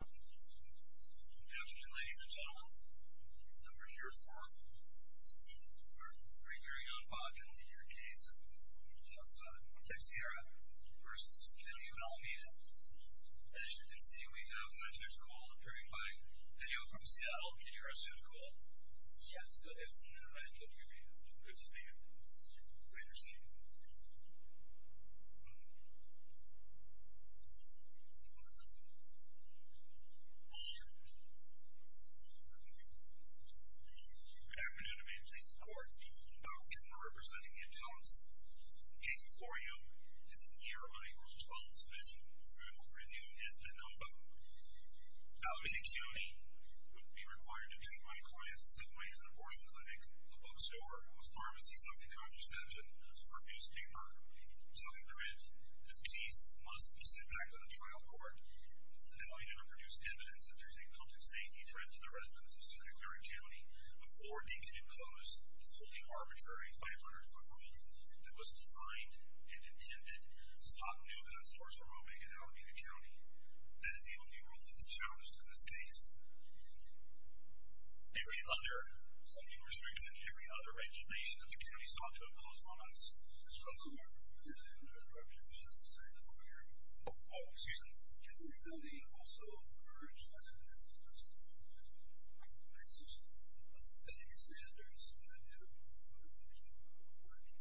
Good afternoon, ladies and gentlemen. We're here for our pre-hearing on Baca, in your case, of Teixeira v. County of Alameda. As you can see, we have Mr. Scholl appearing by video from Seattle. Can you arrest Mr. Scholl? Yes, go ahead. Good to see you. Great to see you. Good afternoon. I'm here to report about the criminal representing the impounds. The case before you is here on April 12th, so this review is de novo. Valerie De Cuny would be required to treat my client's sick mind at an abortion clinic, a bookstore, a pharmacy, something contraception, or newspaper, something print. This case must be sent back to the trial court. It's the only way to produce evidence that there's a public safety threat to the residents of Santa Clara County before being able to impose this wholly arbitrary 500-foot rule that was designed and intended to stop new gun stores from opening in Alameda County. That is the only rule that is challenged in this case. Are we under some new restriction? Are we under regulation that the county sought to impose on us? Mr. O'Connor. I'm going to interrupt you for just a second over here. Oh, excuse me. The county also urged that there be some sort of static standards that would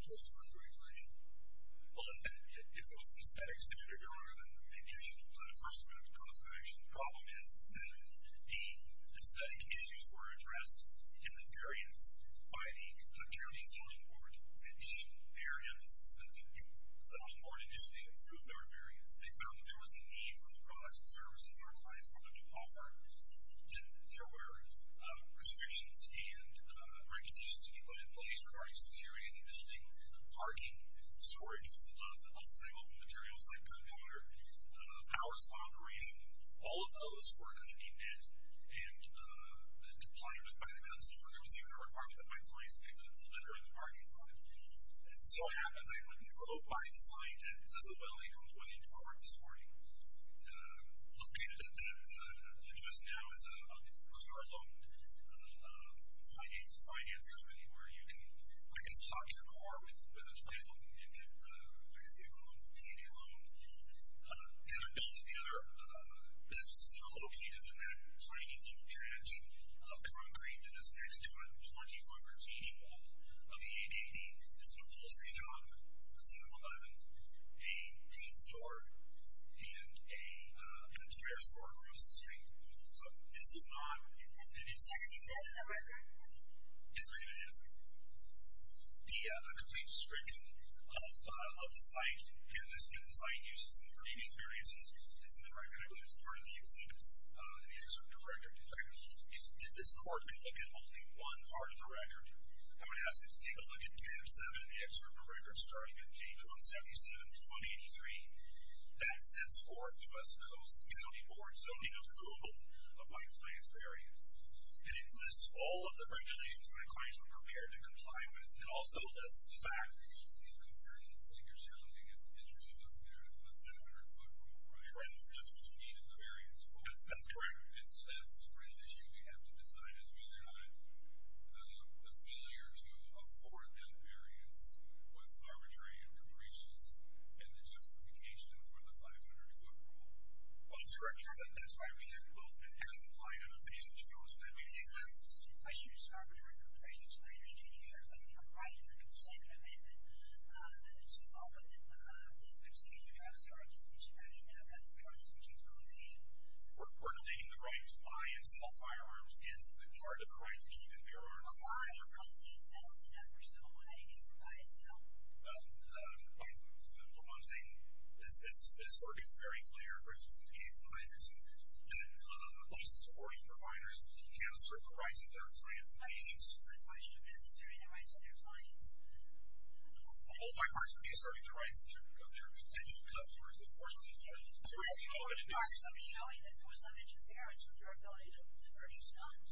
justify the regulation. Well, if it wasn't a static standard, your Honor, then it gives you the first amendment cause of action. The problem is that the static issues were addressed in the variance by the county's zoning board that issued their emphasis. The zoning board initially approved our variance. They found that there was a need for the products and services our clients wanted to offer, that there were restrictions and regulations to be put in place regarding security of the building, parking, storage of outside open materials like gunpowder, powers of operation. All of those were going to be met and deployed by the gun stores. There was even a requirement that my clients picked up the litter in the parking lot. As it so happens, I went and drove by the site at Llewellyn on the way into court this morning. Located at that address now is a car-loaned finance company where I can stock your car with a title and get, I guess you could call it a P&A loan. Both of the other businesses are located in that tiny little patch of concrete that is next to a 24-foot retaining wall of the 880. It's an upholstery shop, a 7-Eleven, a paint store, and a thrift store across the street. So this is not an existing building. Is it an existing building? It certainly is. The complete description of the site and the site uses and the previous variances is in the record. I believe it's part of the exhibits in the exhibit director. In fact, if this court could look at only one part of the record, I would ask it to take a look at 10 of 7 in the excerpt of the record starting at page 177 through 183. That sets forth the West Coast County Board's zoning approval of my client's variance. And it lists all of the regulations my clients were prepared to comply with. It also lists the factors. The variance that you're challenging is really the 700-foot wall, right? That's what you needed the variance for. That's correct. And so that's the real issue we have to decide is whether or not the failure to afford that variance was arbitrary and capricious and the justification for the 500-foot wall. Well, that's correct, Your Honor. That's why we have both the past client and the future client. The question is arbitrary and capricious. My understanding, Your Honor, is I think I'm right. You're going to second amendment to all the disputes that you have. I mean, I've got zero disputes in Philadelphia. We're not taking the right to buy and sell firearms. It's part of the right to keep and bear arms. A buy is when a thing sells enough or so. What do you do if a buy is sold? Well, for one thing, this circuit is very clear. For instance, in the case of Isaacson, licensed abortion providers can assert the rights of their clients and patients. My question is, are you asserting the rights of their clients? Both my parties would be asserting the rights of their potential customers. Are you showing that there was some interference with your ability to purchase guns?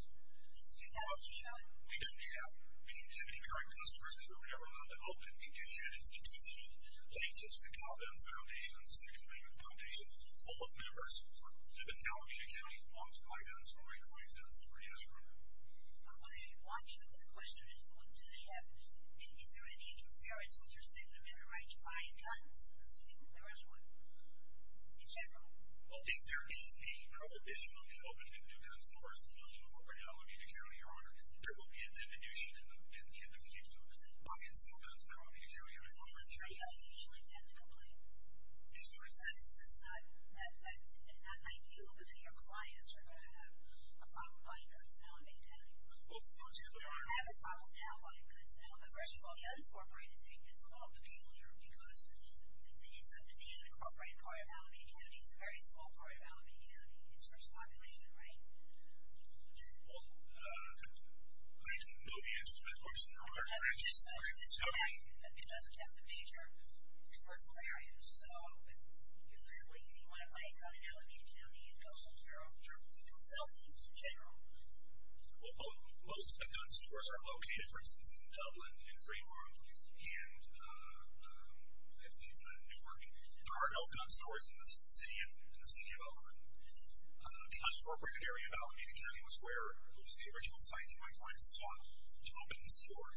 Do you have that to show? We didn't have. We didn't have any current customers. We were never allowed to open. We did have institutional plaintiffs, the Calvin Foundation and the Second Amendment Foundation, full of members. They've been now being accounted for by guns for my clients and it's a pretty nice rumor. Well, the question is, what do they have? Is there any interference with your second amendment rights to buy guns, assuming that there is one, in general? Well, if there is a prohibition on the opening of new guns in the first million for Virginia, Alameda County, Your Honor, there will be a diminution in the future of buying small guns in Alameda County and Alameda County. Is there a prohibition like that in the complaint? Excuse me? That's not you, but then your clients are going to have a problem buying guns in Alameda County. They're going to have a problem now buying guns in Alameda County. First of all, the unincorporated thing is a little peculiar because the unincorporated part of Alameda County is a very small part of Alameda County in terms of population, right? Well, I don't know the answer to that question. It doesn't have the major commercial areas, so what do you want to make out of Alameda County and also your consultations in general? Well, most gun stores are located, for instance, in Dublin, in three farms, and at least in Newark, there are no gun stores in the city of Oakland. The unincorporated area of Alameda County was where the original sites of my clients sought to open and store.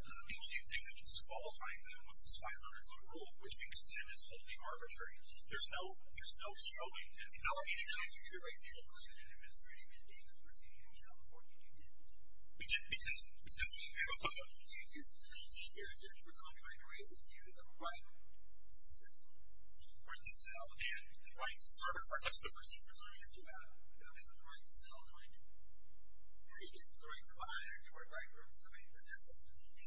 The only thing that disqualified them was this 500-foot rule, which we contend is wholly arbitrary. There's no showing at the Alameda County. You're here right now claiming that an administrative mandate is proceeding in California, and you didn't. We didn't proceed in California. In 18 years, you're presumed trying to raise the issue of the right to sell. The right to sell and the right to service, that's the first thing you're presuming is too bad. Nobody has the right to sell, the right to create, the right to buy, or the right for somebody to possess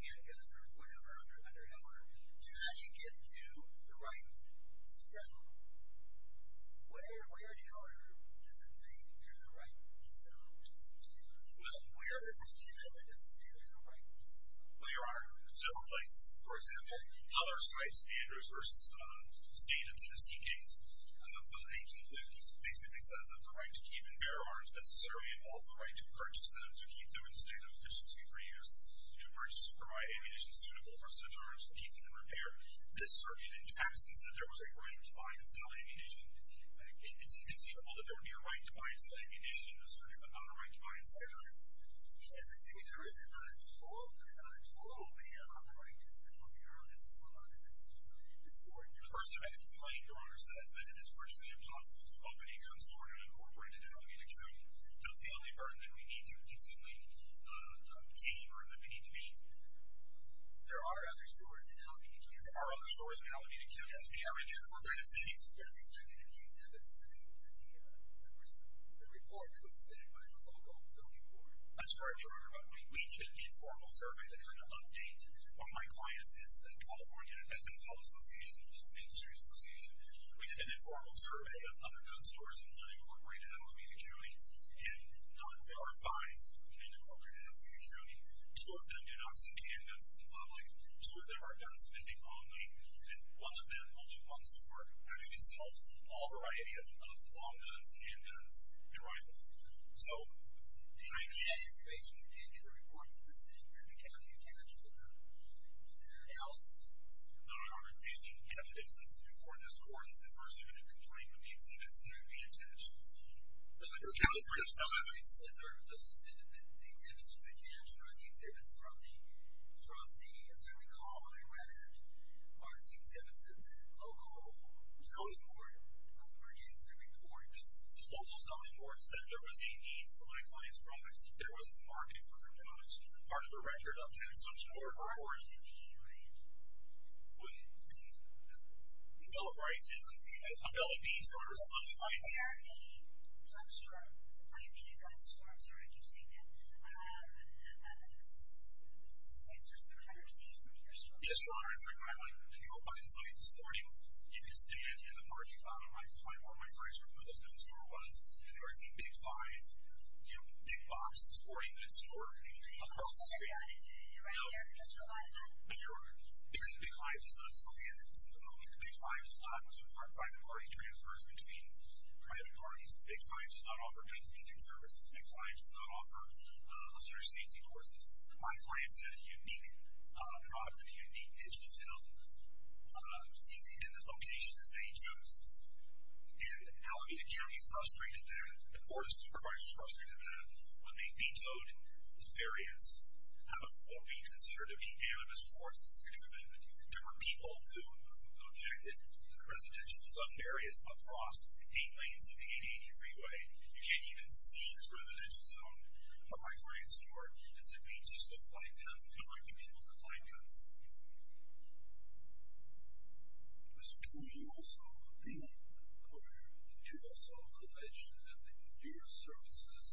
a handgun or whatever under Heller. How do you get to the right to sell? Where in Heller does it say there's a right to sell? Well, where in this amendment does it say there's a right to sell? Well, Your Honor, several places. For example, Heller's Rights Standards versus State of Tennessee case of the 1850s basically says that the right to keep and bear arms necessarily involves the right to purchase them, to keep them in a state of efficiency for use, to purchase and provide ammunition suitable for such or such keeping and repair. This circuit in Jackson said there was a right to buy and sell ammunition. It's inconceivable that there would be a right to buy and sell ammunition in this circuit, but not a right to buy and sell ammunition. As I see it, there is. There's not a total. There's not a total. But yeah, on the right to sell, Your Honor, there's a slot on it. That's the first amendment. The first amendment complaining, Your Honor, says that it is virtually impossible to open a consular and incorporate it into Alameda County. That's the only burden that we need to easily gain or that we need to meet. There are other stores in Alameda County. There are other stores in Alameda County. That's the evidence. We're going to cease. The report was submitted by the local zoning board. That's correct, Your Honor. We did an informal survey to kind of update. One of my clients is the California Methanol Association, which is an industry association. We did an informal survey of other gun stores in unincorporated Alameda County and non-corporated Alameda County. Two of them do not send handguns to the public. Two of them are gunsmithing only. And one of them, only one store, actually sells all varieties of long guns, handguns, and rifles. So the idea is basically you can't get a report from the city to the county attached to the analysis. No, Your Honor. The evidence that's before this court is the first amendment complaining that the exhibits that are being attached are the exhibits from the, as I recall, are the exhibits that the local zoning board produced the reports. The local zoning board said there was a need for my client's products. There was a market for their products. Part of the record of the consumption order report. Part of the need, right? The Bill of Rights isn't a Bill of Rights. They are a gun store. I mean a gun store. Sorry, I keep saying that. Is there some kind of fees when you're storing them? Yes, Your Honor. If I go out to a gun site this morning, you can stand in the parking lot on the right side where my price for one of those gun stores was, and there is a Big Five, you know, big box of sporting goods stored across the street. You're right. You're right. I just realized that. Because the Big Five does not sell handguns to the public. The Big Five does not support private party transfers between private parties. The Big Five does not offer gunsmithing services. The Big Five does not offer other safety courses. My clients had a unique product and a unique pitch to sell in the location that they chose. And Alameda County frustrated that. The Board of Supervisors frustrated that. What they vetoed is variance. What we consider to be animus towards this particular amendment. There were people who objected that the residential zone varies across eight lanes of the 880 freeway. You can't even see this residential zone from my client's door. It's a beach. There's no flying pets. I don't like to be able to fly pets. Can we also, can we also pledge that the enduro services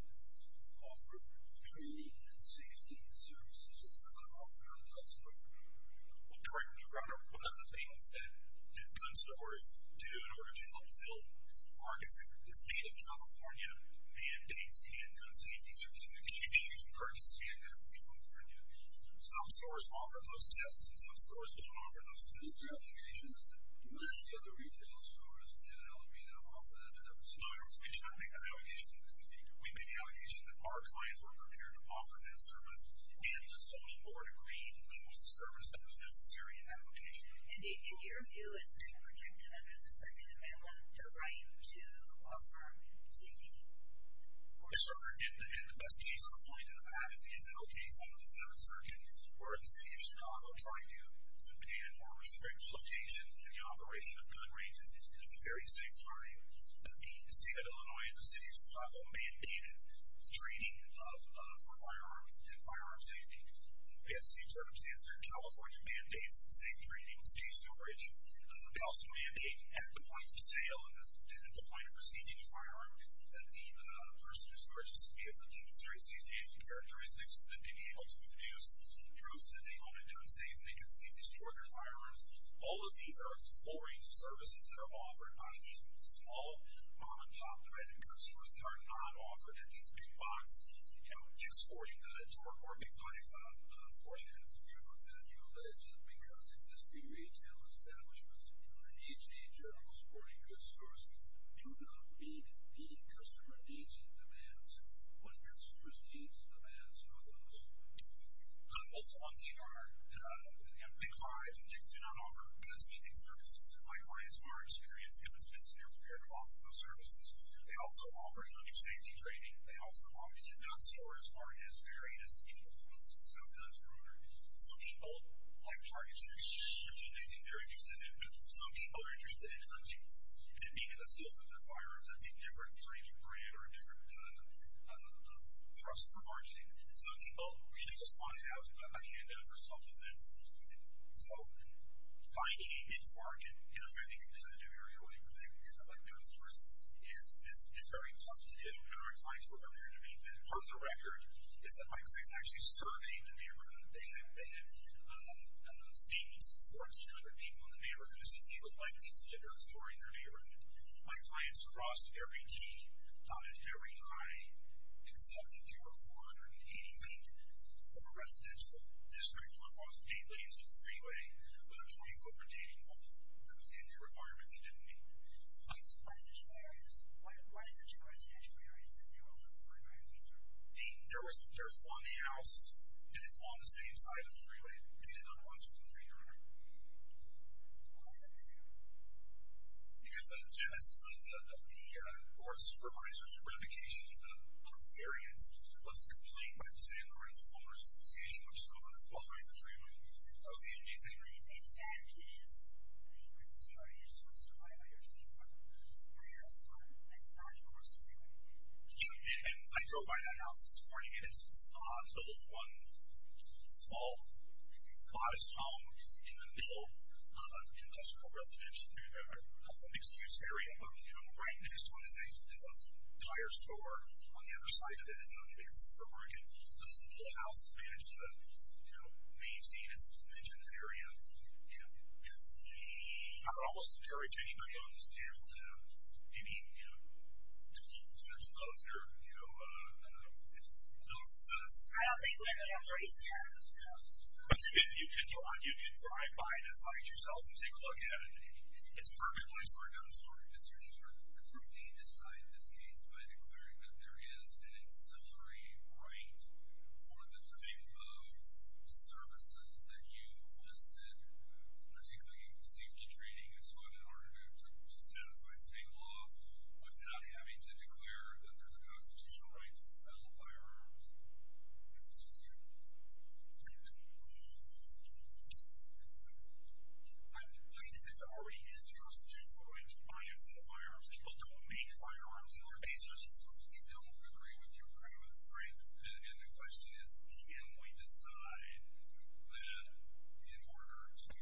offer training and safety services? Is that what I'm offering or not? Well, correct me if I'm wrong. One of the things that gun stores do in order to help fill the state of California mandates and gun safety certification, you can purchase handguns in California. Some stores offer those tests and some stores don't offer those tests. This allegation is that most of the other retail stores in Alameda offer that type of service. No, we do not make that allegation. We make the allegation that our clients were prepared to offer that service and the zoning board agreed that that was the service that was necessary in that location. And in your view, is gun protection under the second amendment the right to offer safety? For sure. And the best case or point of that is the SL case under the seventh circuit where the city of Chicago tried to ban or restrict location and the operation of gun ranges at the very same time. The state of Illinois and the city of Chicago mandated training for firearms and firearm safety. We have the same circumstance here. California mandates safe training, safe storage. They also mandate at the point of sale and at the point of receiving a firearm that the person who's purchasing it demonstrates these handling characteristics that they'd be able to produce, proves that they own and don't seize, and they can safely store their firearms. All of these are full range of services that are offered by these small, mom-and-pop dreaded gun stores that are not offered at these big box sporting goods or big five sporting goods. In your view, that is just because existing retail establishments and the AHA, general sporting goods stores, do not meet the customer needs and demands. What customers needs and demands are those? Also, on TMR, big five and JICs do not offer guns meeting services. And my clients who are experienced in this business, they're prepared to offer those services. They also offer gun safety training. They also offer that gun stores aren't as varied as the people who sell guns for owners. Some people like target shooting. They think they're interested in that. Some people are interested in hunting and being in the field with their firearms. That's a different kind of brand or a different trust for marketing. Some people really just want to have a handout for self-defense. So, finding a niche market in a very competitive area where you can have gun stores is very tough to do. And our clients were prepared to meet that. Part of the record is that my clients actually surveyed the neighborhood. They had statements from 1,400 people in the neighborhood who said, they would like these figures for their neighborhood. My clients crossed every T, dotted every I, except that they were 480 feet from a residential district where it was main lanes and a three-way, but it was where you go for dating. That was the only requirement they didn't meet. So, why is it that there are residential areas that they were less than 5 feet from? There's one house that is on the same side of the three-way. They did not want you in the three-way. Why is that a concern? Because some of the board supervisor's verification of the variance was complained by the San Francisco Owners Association, which is what's behind the three-way. That was the only reason. I think that is a concern. You're supposed to write what you're doing for the entire spot. That's not, of course, a three-way. Yeah, and I drove by that house this morning, and it's this odd little one, small, modest home in the middle of an industrial residential, a mixed-use area. But, you know, right next to it is a tire store. On the other side of it is another big supermarket. So, this little house has managed to, you know, maintain its mentioned area. You know, I would almost encourage anybody on this panel to maybe, you know, do a little search of those here. You know, those citizens. I don't think we're going to embrace that. But you can drive by, decide yourself, and take a look at it. It's a perfect place for a gun store, Mr. Jordan. Could we decide this case by declaring that there is an ancillary right for the type of services that you've listed, particularly safety training and so on, in order to satisfy state law without having to declare that there's a constitutional right to sell firearms? Thank you. I think that there already is a constitutional right to buy and sell firearms. People don't make firearms in their basements. You don't agree with your premise, right? And the question is, can we decide that in order to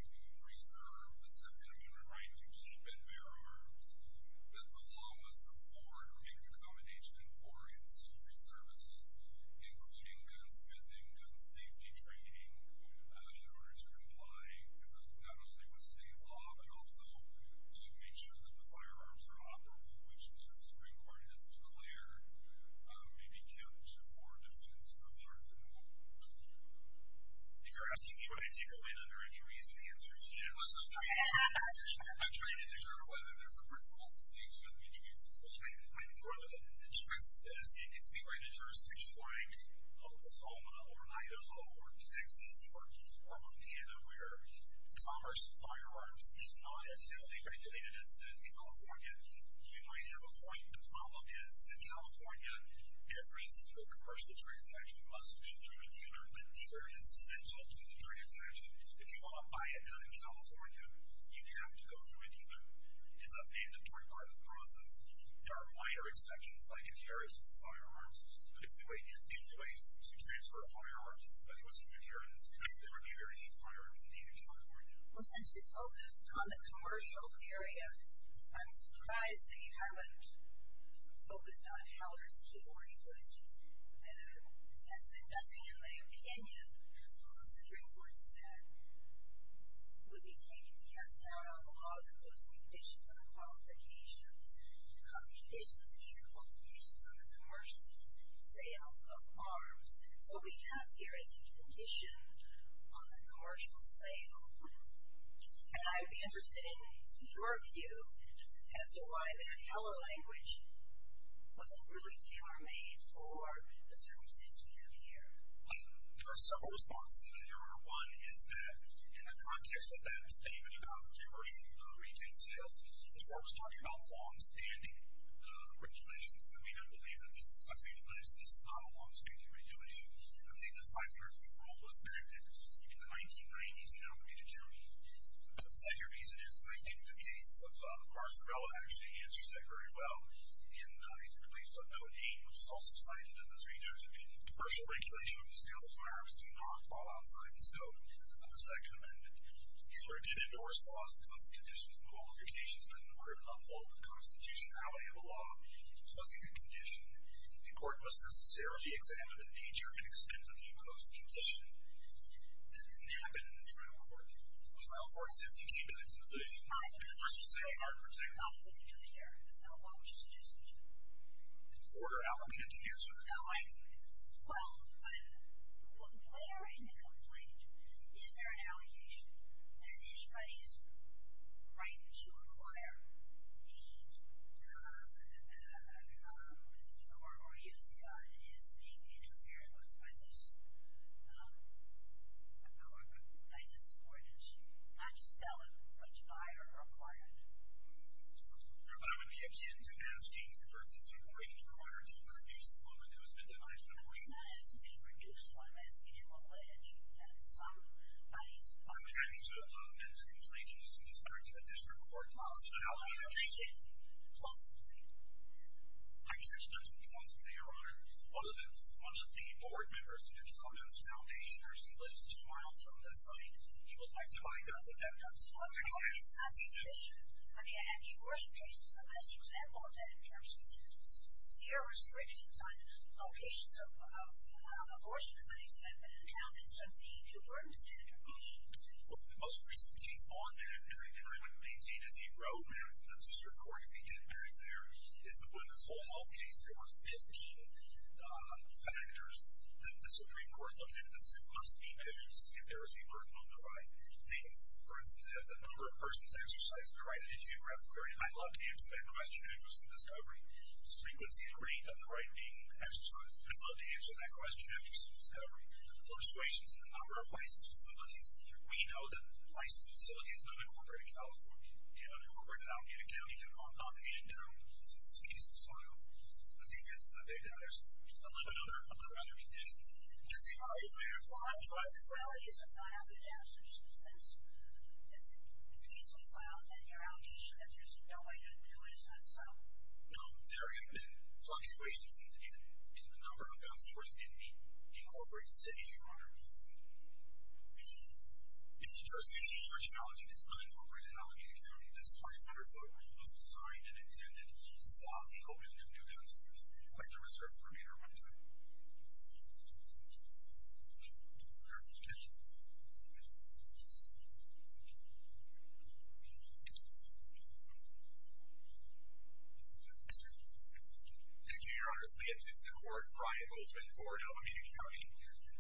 preserve the second amendment right to keep and bear arms, that the law must afford or make an accommodation for ancillary services, including gun smithing, gun safety training, in order to comply, not only with state law, but also to make sure that the firearms are operable, which the Supreme Court has declared may be counted for defense for part of the new law. If you're asking me whether to take a win under any reason, the answer is yes. I'm trying to determine whether there's a principled distinction between Well, I think one of the differences is, if we write a jurisdiction like Oklahoma or Idaho or Texas or Montana, where commerce in firearms is not as heavily regulated as it is in California, you might have a point. The problem is, in California, every single commercial transaction must go through a dealer, but the dealer is essential to the transaction. If you want to buy it down in California, you have to go through a dealer. It's a mandatory part of the process. There are minor exceptions, like in the areas of firearms, but if we were to think of a way to transfer a firearm to somebody who was from any areas, there would be very few firearms in the area of California. Well, since we focused on the commercial area, I'm surprised that you haven't focused on how there's keyboarding footage. And it says that nothing in my opinion, as the Supreme Court said, would be taken to cast doubt on the laws and those conditions and qualifications. Conditions and even qualifications on the commercial sale of arms. So what we have here is a condition on the commercial sale. And I'd be interested in your view as to why that heller language wasn't really D.R. made for the circumstances we have here. There are several responses to that error. One is that in the context of that statement about commercial retail sales, the court was talking about longstanding regulations. I mean, I believe that this is not a longstanding regulation. I believe this 500-foot rule was enacted in the 1990s in Alameda County. But the second reason is I think the case of Marsarella actually answers that very well. And it releases a note 8, which is also cited in this region. Commercial regulation of the sale of firearms do not fall outside the scope of the second amendment. Heller did endorse laws and those conditions and qualifications, but in order to uphold the constitutionality of a law, it was a good condition. The court must necessarily examine the nature and extent of the imposed condition. That didn't happen in the trial court. The trial court simply came into the position that the commercial sale is unprotected. So what would you suggest we do? Order Alameda to use with the complaint. Well, when you're in the complaint, is there an allegation that anybody's right to acquire the gun or use the gun is being interfered with by this court, by this ordinance, not to sell it, but to buy or acquire it? Your Honor, that would be akin to asking the person who is required to produce one that has been denied. I'm not asking to produce one. I'm asking to allege that somebody's right. I'm asking to amend the complaint in this respect to the district court laws of Alameda. I'm asking to close the complaint. I can't close the complaint, Your Honor, other than one of the board members, which comments foundationers, he lives two miles from the site. He would like to buy guns and have guns. Well, there are these kinds of conditions. I mean, an abortion case is the best example of that in terms of the There are restrictions on locations of abortion clinics that have been impounded since the New Jersey murder scandal. Well, the most recent case on that, and I would maintain as a pro-marriage in the district court, if you get married there, is the women's home health case. There were 15 factors that the Supreme Court looked at that said, must be measured to see if there was a burden on the right. Things, for instance, as the number of persons exercised the right to issue breath of clarity, I'd love to answer that question after some discovery. The frequency and rate of the right being exercised, I'd love to answer that question after some discovery. The fluctuations in the number of licensed facilities. We know that licensed facilities have been incorporated in California. They've been incorporated in Alameda County. They've gone up and down since this case was filed. I think this is a big data. There's a lot of other conditions. Jesse, are you there? Well, I'm trying to follow you, so if I don't have a good answer since this case was filed, then your allegation that there's no way to do it is not so? No. There have been fluctuations in the number of downstairs in the incorporated cities, Your Honor. In the jurisdiction of the originality of this unincorporated Alameda County, this 500-foot wall was designed and intended to stop the opening of new downstairs. I'd like to reserve the remainder of my time. Okay. Thank you. Thank you, Your Honor. This is the court, Brian Goldman, for Alameda County.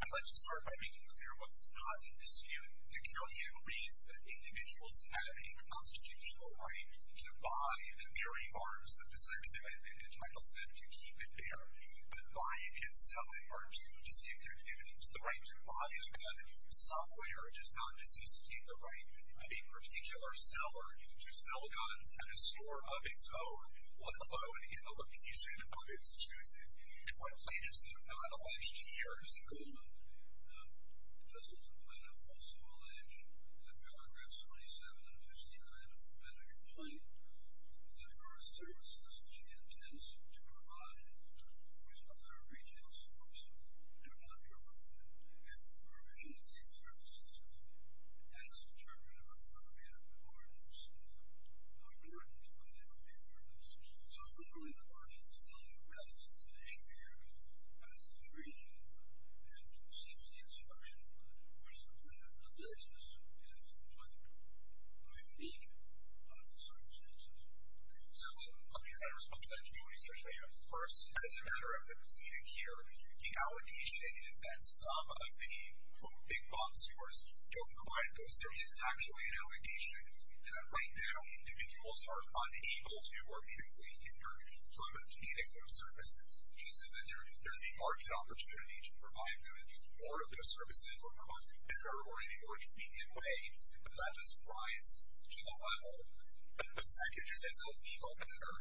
I'd like to start by making clear what's not in dispute. The county agrees that individuals have a constitutional right to buy the mirroring arms of the facility and entitles them to keep and bear, but buy and sell the arms to save their activities. The right to buy a gun somewhere does not necessitate the right of a particular seller to sell guns at a store of his own, let alone in the location of his choosing. And what plaintiffs have not alleged here is... Mr. Goldman, this is a complaint I've also alleged. In paragraphs 27 and 59 of the medical complaint, there are services which he intends to provide which other retail stores do not provide, and the provision of these services as interpreted by the Alameda Courts are threatened by the Alameda Courts. So I'm wondering if the audience still realizes that issue here as it's reading and receives the instruction which the plaintiff alleges is a complaint by a league of the circumstances. So let me try to respond to that, too, and especially at first. As a matter of proceeding here, the allegation is that some of the, quote, big box stores don't provide those. There isn't actually an allegation that right now individuals are unable to or needn't be hindered from obtaining those services. She says that there's a market opportunity to provide them more of those services or provide them better or in a more convenient way, but that doesn't rise to the level. And when Sackett just says, oh, equal better,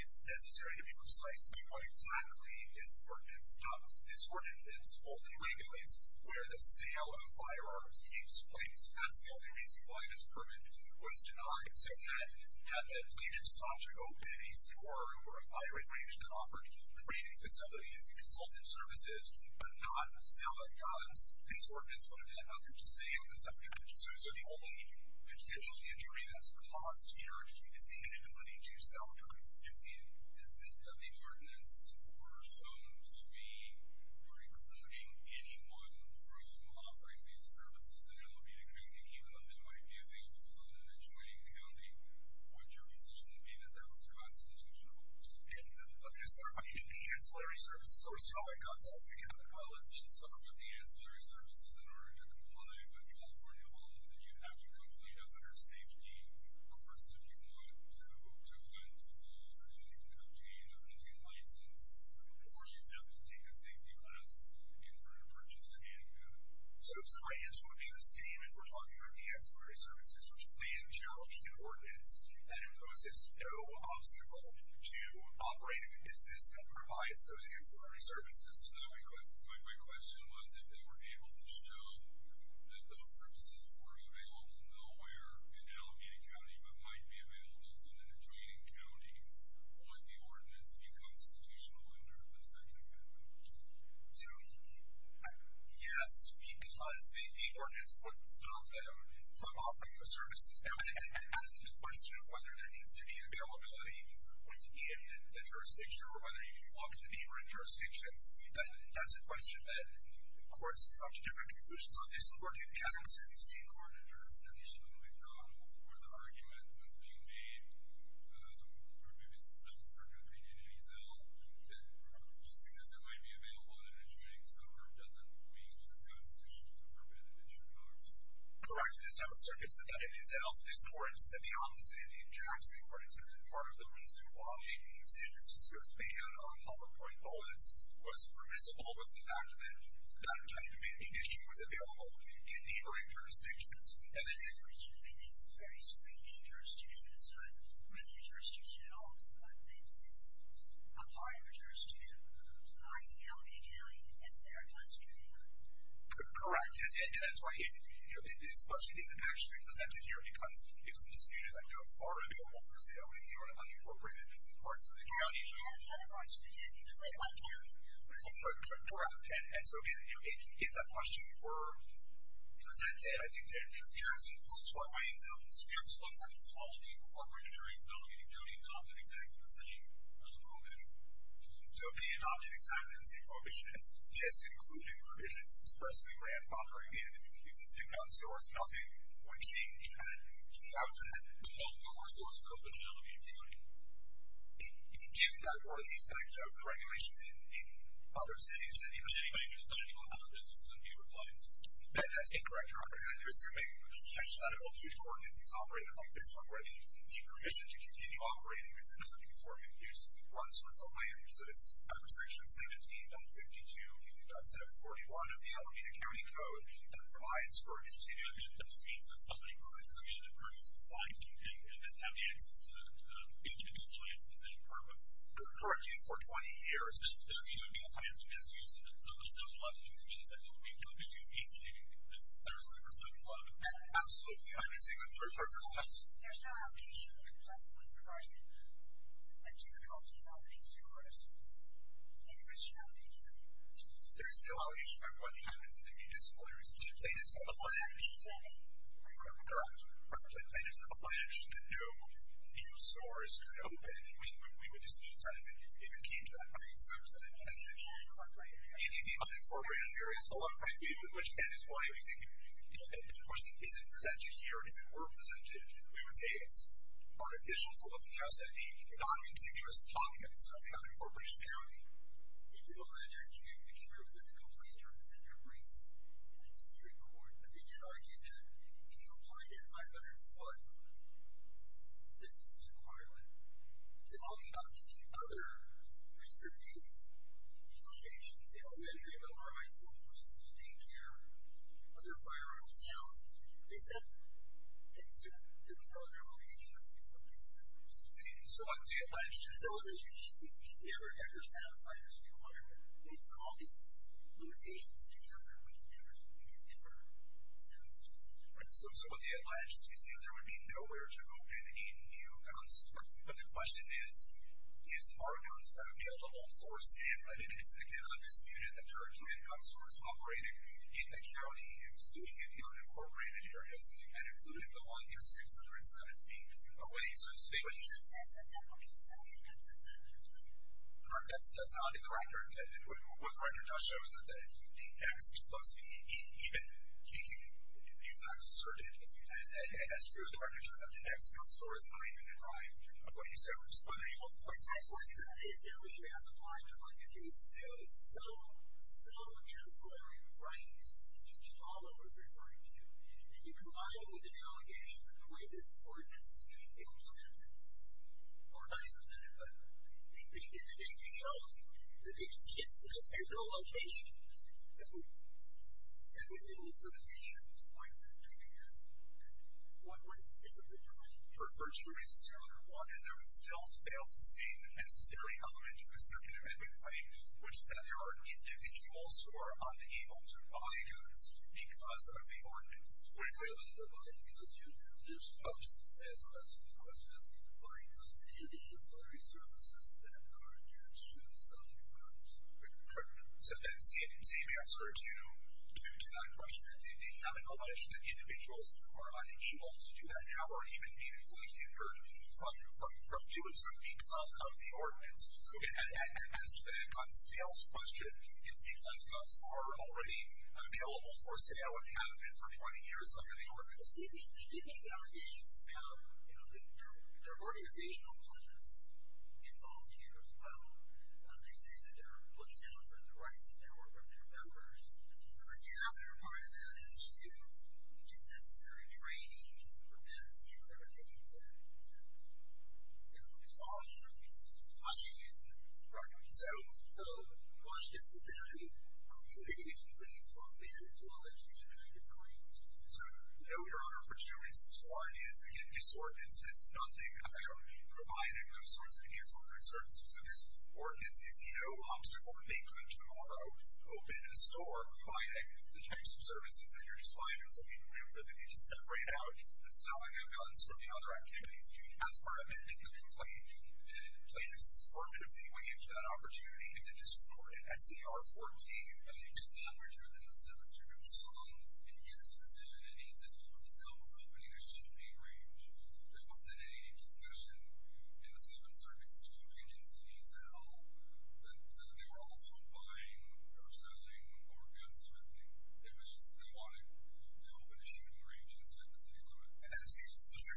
it's necessary to be precise about what exactly this ordinance does. This ordinance only regulates where the sale of firearms takes place. That's the only reason why this permit was denied. So had that plaintiff sought to go in a store or a firing range that offered training facilities and consultative services but not sell the guns, this ordinance would have had nothing to say on the subject of that. So the only potential injury that's caused here is the inability to sell drugs. Excuse me, is it that the ordinance were shown to be precluding anyone from offering these services in Alameda County, even though they might be able to do that in a joining county? Would your position be that that was constitutional? Let me just clarify, the ancillary services or selling guns? Well, if you start with the ancillary services in order to comply with California law, then you have to complete a better safety course if you want to go to a gun store and you can obtain a hunting license, or you'd have to take a safety class in order to purchase a handgun. So my answer would be the same if we're talking about the ancillary services, which is laying the challenge in the ordinance that it poses no obstacle to operating a business that provides those ancillary services. So my question was if they were able to show that those services were available nowhere in Alameda County but might be available within a joining county, would the ordinance be constitutional under the second amendment? Yes, because the ordinance wouldn't stop them from offering those services. Now, it has the question of whether there needs to be availability within the jurisdiction or whether you can walk to neighboring jurisdictions. That's a question that courts have come to different conclusions on this. For New Jackson, the state court addressed that issue in McDonald's where the argument was being made through the Mississippi South Circuit that it is ill, that just because it might be available in a joining suburb doesn't mean it's constitutional to forbid it in Chicago. Correct. The South Circuit said that it is ill. This court said the opposite. In Jackson, for instance, and part of the reason why San Francisco's ban on hollow-point bullets was permissible was the fact that that kind of an issue was available in neighboring jurisdictions. And this is very strange jurisdiction. It's not really a jurisdiction at all. It's a part of a jurisdiction that's behind the Alameda County and they're concentrating on it. Correct. And that's why this question isn't actually presented here because it's been disputed that drugs are available for sale in the unincorporated parts of the county. In the unincorporated parts of the county. It's like one county. Correct. And so if that question were presented, I think that here's what Wayne tells us. Here's what Wayne tells us. All the incorporated areas in Alameda County adopted exactly the same prohibition. So they adopted exactly the same prohibition as just including provisions especially where it's not very big. It's the same gun stores. Nothing would change. I would say that no gun stores are open in Alameda County. It gives you that early effect of the regulations in other cities with anybody deciding to go out of business and be replaced. Ben, that's incorrect. You're assuming that all future ordinances operate like this one where the permission to continue operating is another conformative use that runs with the land use. So this is section 17.52.741 of the Alameda County Code that provides for continued... That means that somebody could come in and purchase the signs and have the access to be able to be replaced for the same purpose. Correct. For 20 years. So, you know, it would be the highest amount of use in the 707-11, which means that it would be a little bit too easy for 707-11. Absolutely. I can say that for a couple of months. There's no obligation when it comes to this regarding the difficulty of opening stores. It is just an obligation. There is no obligation. Everybody has it. It's a municipal area. It's a plain and simple land. Correct. It's a plain and simple land. No new stores could open when we would decide to turn it in. It would keep that. I mean, 707-11. Correct. In the non-incorporated areas, a lot of time people in Wichita would be thinking, you know, the question, is it presented here, and if it were presented, we would say it's artificial, full of the dust, and non-continuous documents of non-incorporated county. You did a letter. You came here with a complaint representing a race district court, but they did argue that if you applied at 500 foot distance requirement, it would all be up to the other restrictive locations, the elementary, middle, high school, preschool, daycare, other firearm sales. They said they couldn't control their location with some of these things. So what do you advise? They said we should never, ever satisfy this requirement. We've got all these limitations together and we can never, we can never settle this. So what do you advise? Do you say there would be nowhere to open any new guns? But the question is, is our guns available for sale? I think it's, again, undisputed that there are two gun stores operating in the county, including in the unincorporated areas, and including the one that's 607 feet away. So it's a big issue. But you just said that that one isn't selling any guns. Is that true? Correct. That's not in the record. What the record does show is that the next, close to me, even, he can be fact asserted as true. The record shows that the next gun store is behind me in the driveway. What do you say? What are the health points? That's what the establishment has applied to. If you assume some, some ancillary right, which is all I was referring to, and you combine it with an allegation that the way this ordinance is being implemented, or not implemented, but being did today to show that they just can't, there's no location that would, that would limit the location. It's a point that I'm taking now. What would, for a first, two reasons. One is there would still fail to state that necessarily element of the second amendment claim, which is that there are individuals who are unable to buy goods because of the ordinance. If you're able to buy goods, you'd have an issue. Obviously, as a question, the question is, are you doing any of the ancillary services that are due to the selling of guns? Correct. So, same answer to, to that question. It's not an allegation that individuals are unable to do that now, or even needfully hindered from doing so because of the ordinance. So, as to the guns sales question, it's because guns are already available for sale and have been for 20 years under the ordinance. The EPA allegations have, you know, there are organizational plans involved here as well. They say that there are books now for the rights of their workers, their members. The other part of that is to, the necessary training prevents the accreditation to, you know, follow through on getting it. Right. So, why is it that, I mean, are we making any claims to a mandatory kind of claim? So, no, Your Honor, for two reasons. One is, again, this ordinance is nothing, I don't mean providing those sorts of ancillary services. So, this ordinance is no obstacle to making them tomorrow open in a store providing the types of services that you're supplying. So, I mean, we really need to separate out the selling of guns from the other activities. As per amendment, the complaint, the plaintiffs affirmatively waived that opportunity and then just recorded S.E.R. 14. I mean, if that were true, then the 7th Circuit was wrong in his decision and he's at fault for still opening a shipping range. There wasn't any discussion in the 7th Circuit's two opinions and he's at home that they were also buying or selling or gun smithing. It was just that they wanted to open a shooting range inside the 7th Circuit. And that's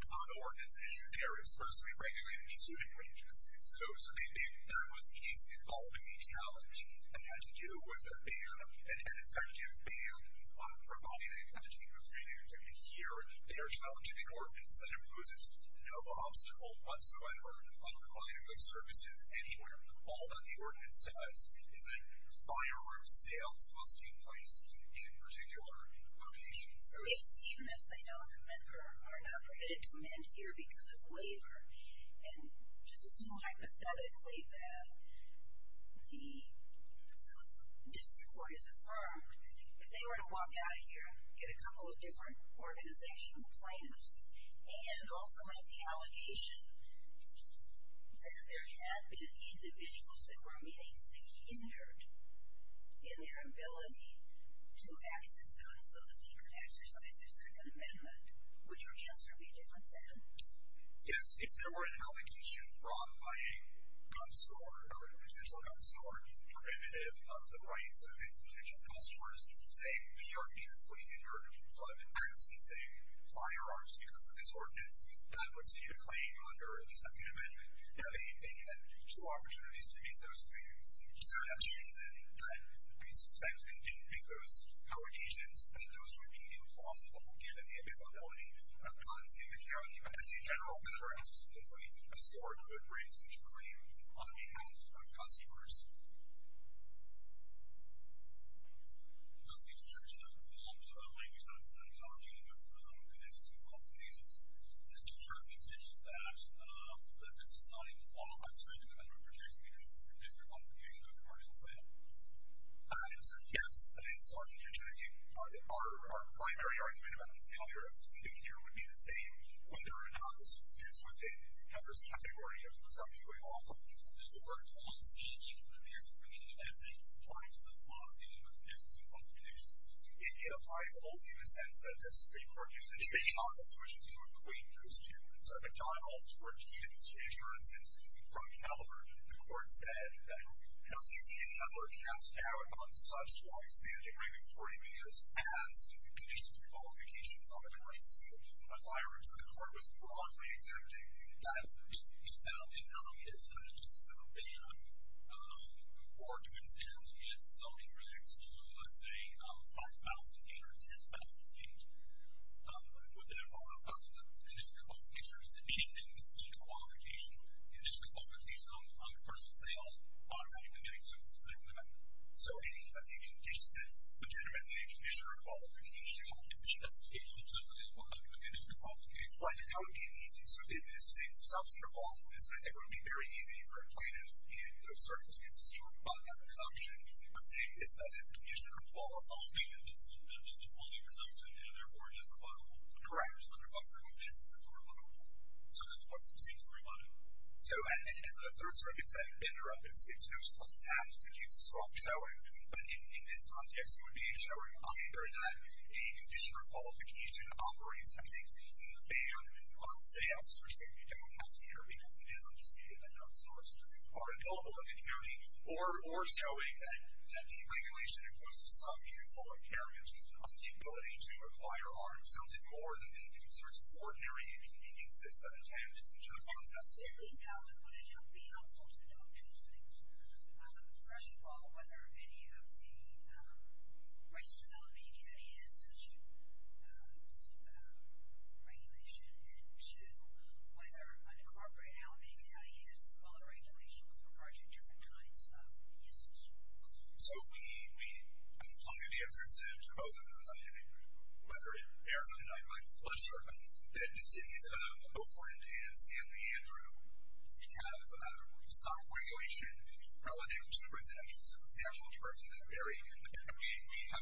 not an ordinance issue. They are expressly regulating shooting ranges. So, that was the case involving a challenge that had to do with a ban, an effective ban on providing entertainment or free entertainment here. They are challenging an ordinance that imposes no obstacle whatsoever on providing those services anywhere. All that the ordinance says is that firearm sales must take place in particular locations. So, even if they are not permitted to amend here because of waiver, and just assume hypothetically that the District Court has affirmed that if they were to walk out of here and get a couple of different organizational plaintiffs and also make the allegation that there had been individuals that were meaningfully hindered in their ability to access guns so that they could exercise their Second Amendment, would your answer be different then? Yes, if there were an allegation brought by a gun store, a potential gun store, prohibitive of the use guns, a potential customer saying we are meaningfully hindered from producing firearms because of this ordinance, that would see a claim under the Second Amendment. If they had two opportunities to make those claims, is there no reason that we suspect they didn't make those allegations since those would be impossible given the availability of guns in the county as a general matter and simply a store could raise such a claim on behalf of customers? I'm not familiar with the terminology of conditions and complications. Is there a certain intention that this is not even one or five percent of gun sales? Yes, I saw the intention. I think our primary argument would be the same whether or not this fits within the category of something going off. Does the word conceding apply to the laws dealing with conditions and qualifications? don't see any other cast out on such law extending even 30 minutes as conditions and qualifications on a gun sale. The court was broadly exempting gun sales from this category.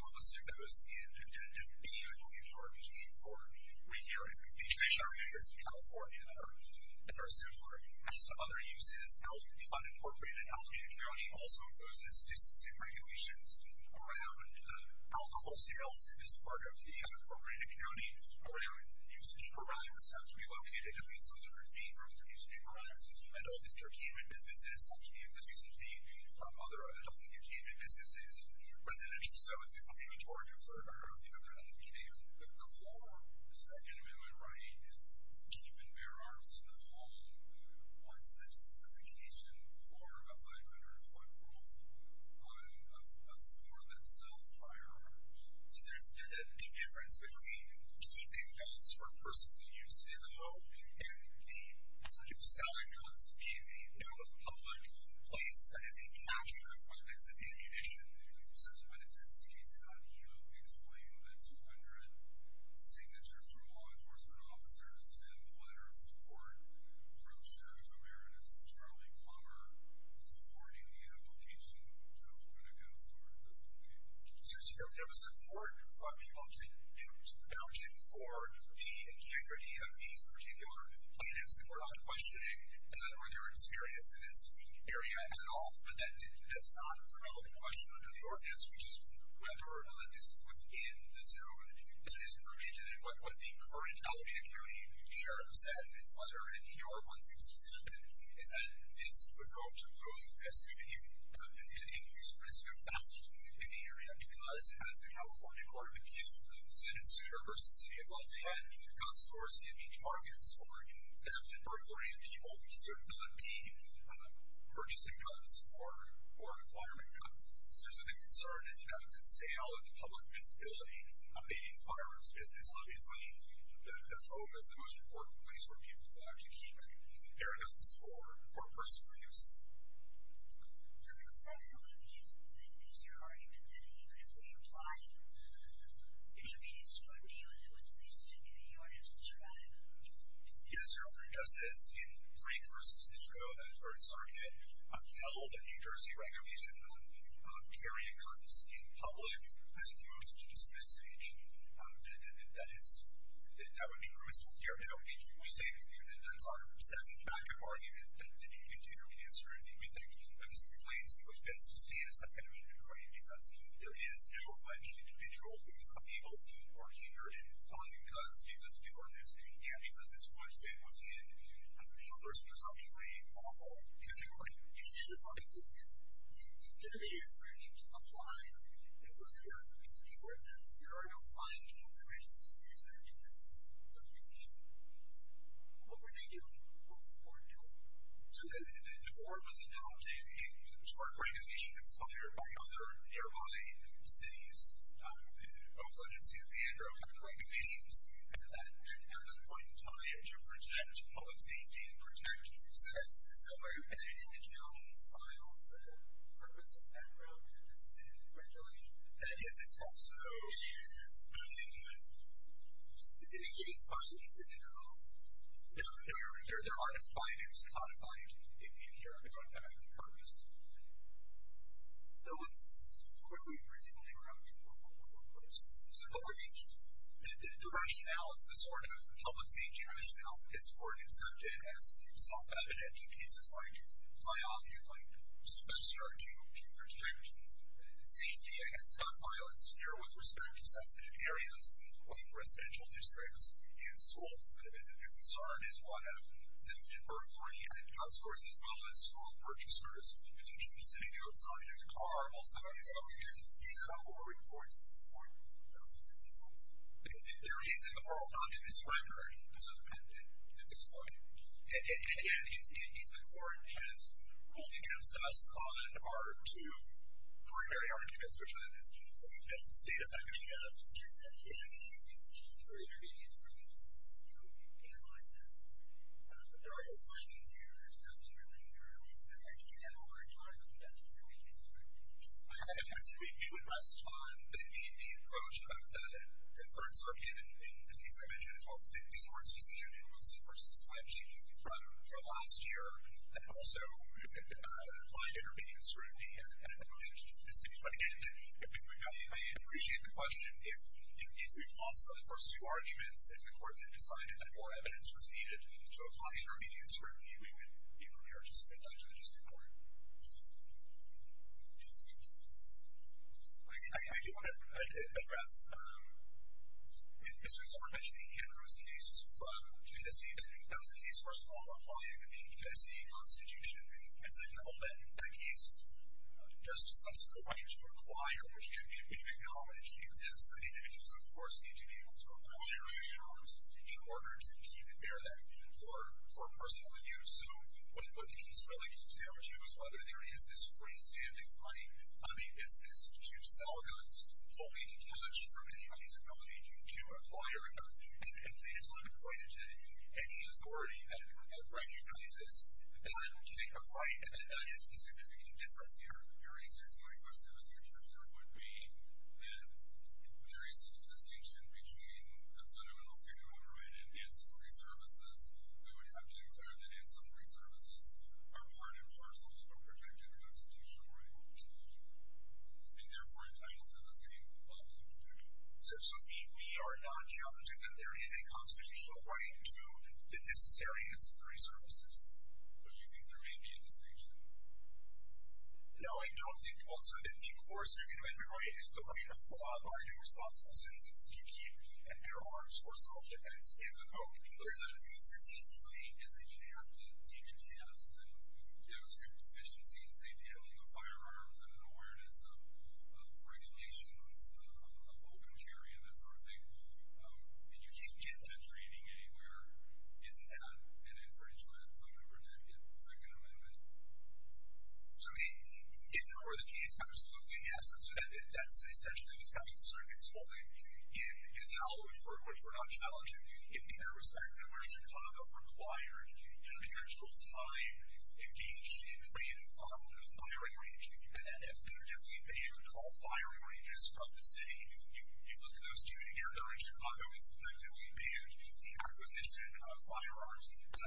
With regard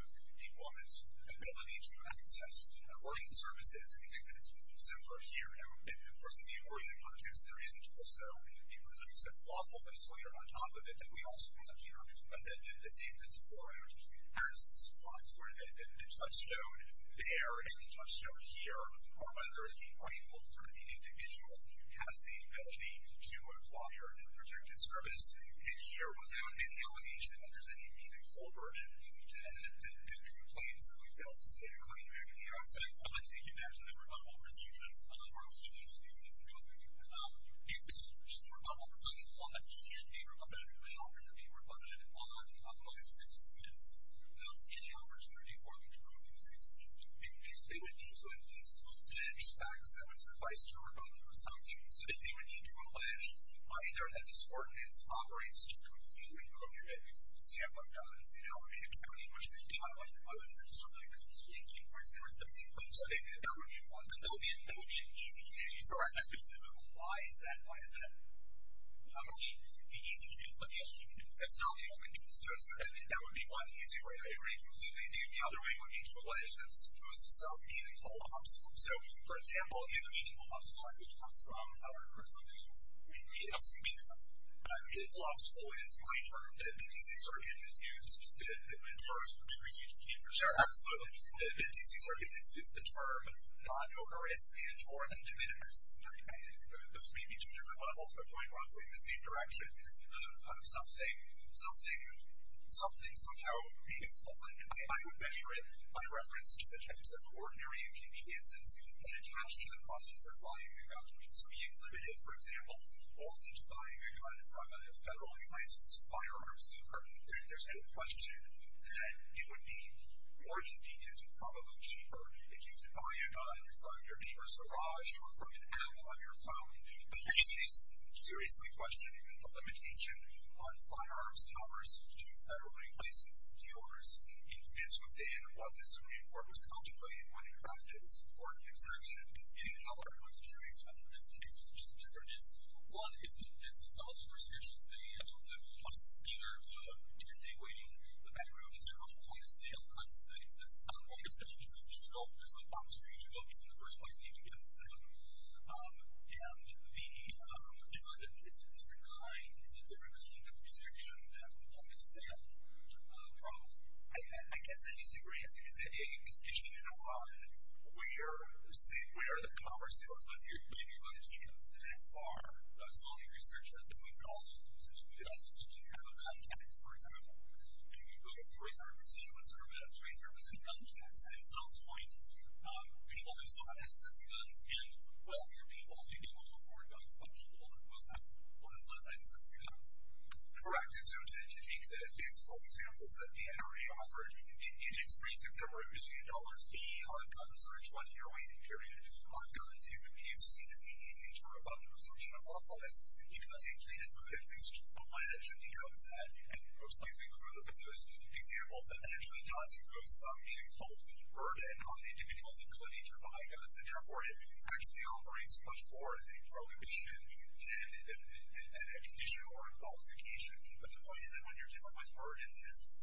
to neighborhood gun stores, in 2015, of course, it's a new fact that Alameda is now requiring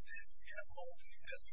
retail and residential high-density zoning. So, in the future,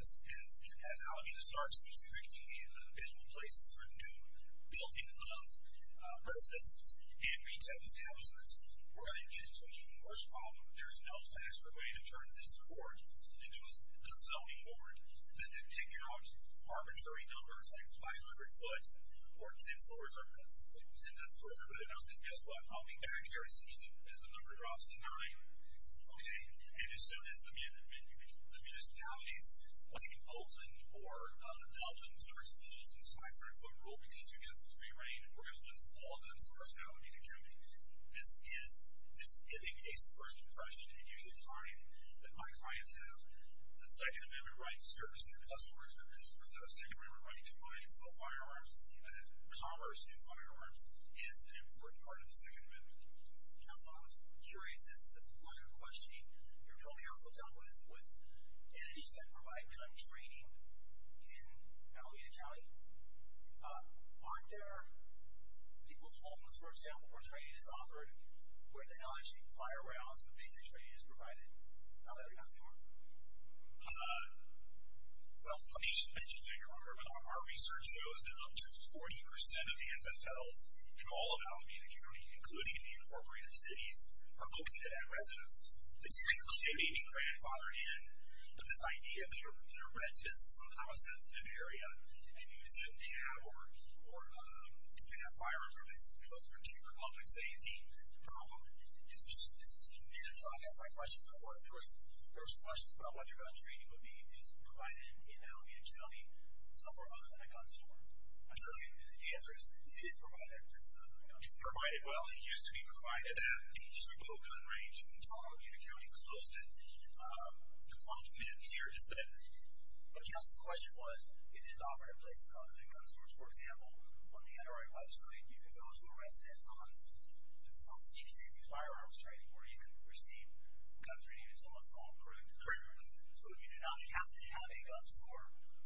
as Alameda starts restricting the places for new building of residences and retail establishments, we're going to get into an even worse problem. There's no faster way to turn this court into a zoning board than to take out arbitrary numbers like 500 foot or 10 store store. And as soon as the municipalities like Oakland or Dublin start imposing the 500 foot rule because you get the free range, we're going to lose all of them. This is a case of first impression. You should find that my clients have the second opinion. think that the second opinion is an important part of the second amendment. I'm curious about your co-counsel with entities that provide training in Alameda County. Are there people's homes where training is offered, where the LHT fire rounds and basic training are provided? Our research shows that up to 40% of the NFL's in Alameda County are located at residences. They may be close to the fire rooms. I guess my question was, there was questions about whether gun training would be provided in Alameda County somewhere other than a gun store. The answer is that there are gun stores in Alameda County. The question was, if it is offered in places other than gun stores, you can go to a residence and receive gun training in Alameda County. The was, than gun stores, you can go to a residence and receive gun training in Alameda County. The answer was, offered in other gun you can go to a residence and receive gun training in Alameda County. The answer was, if it is and receive gun training in Alameda County. The answer was, if it is offered in other gun stores,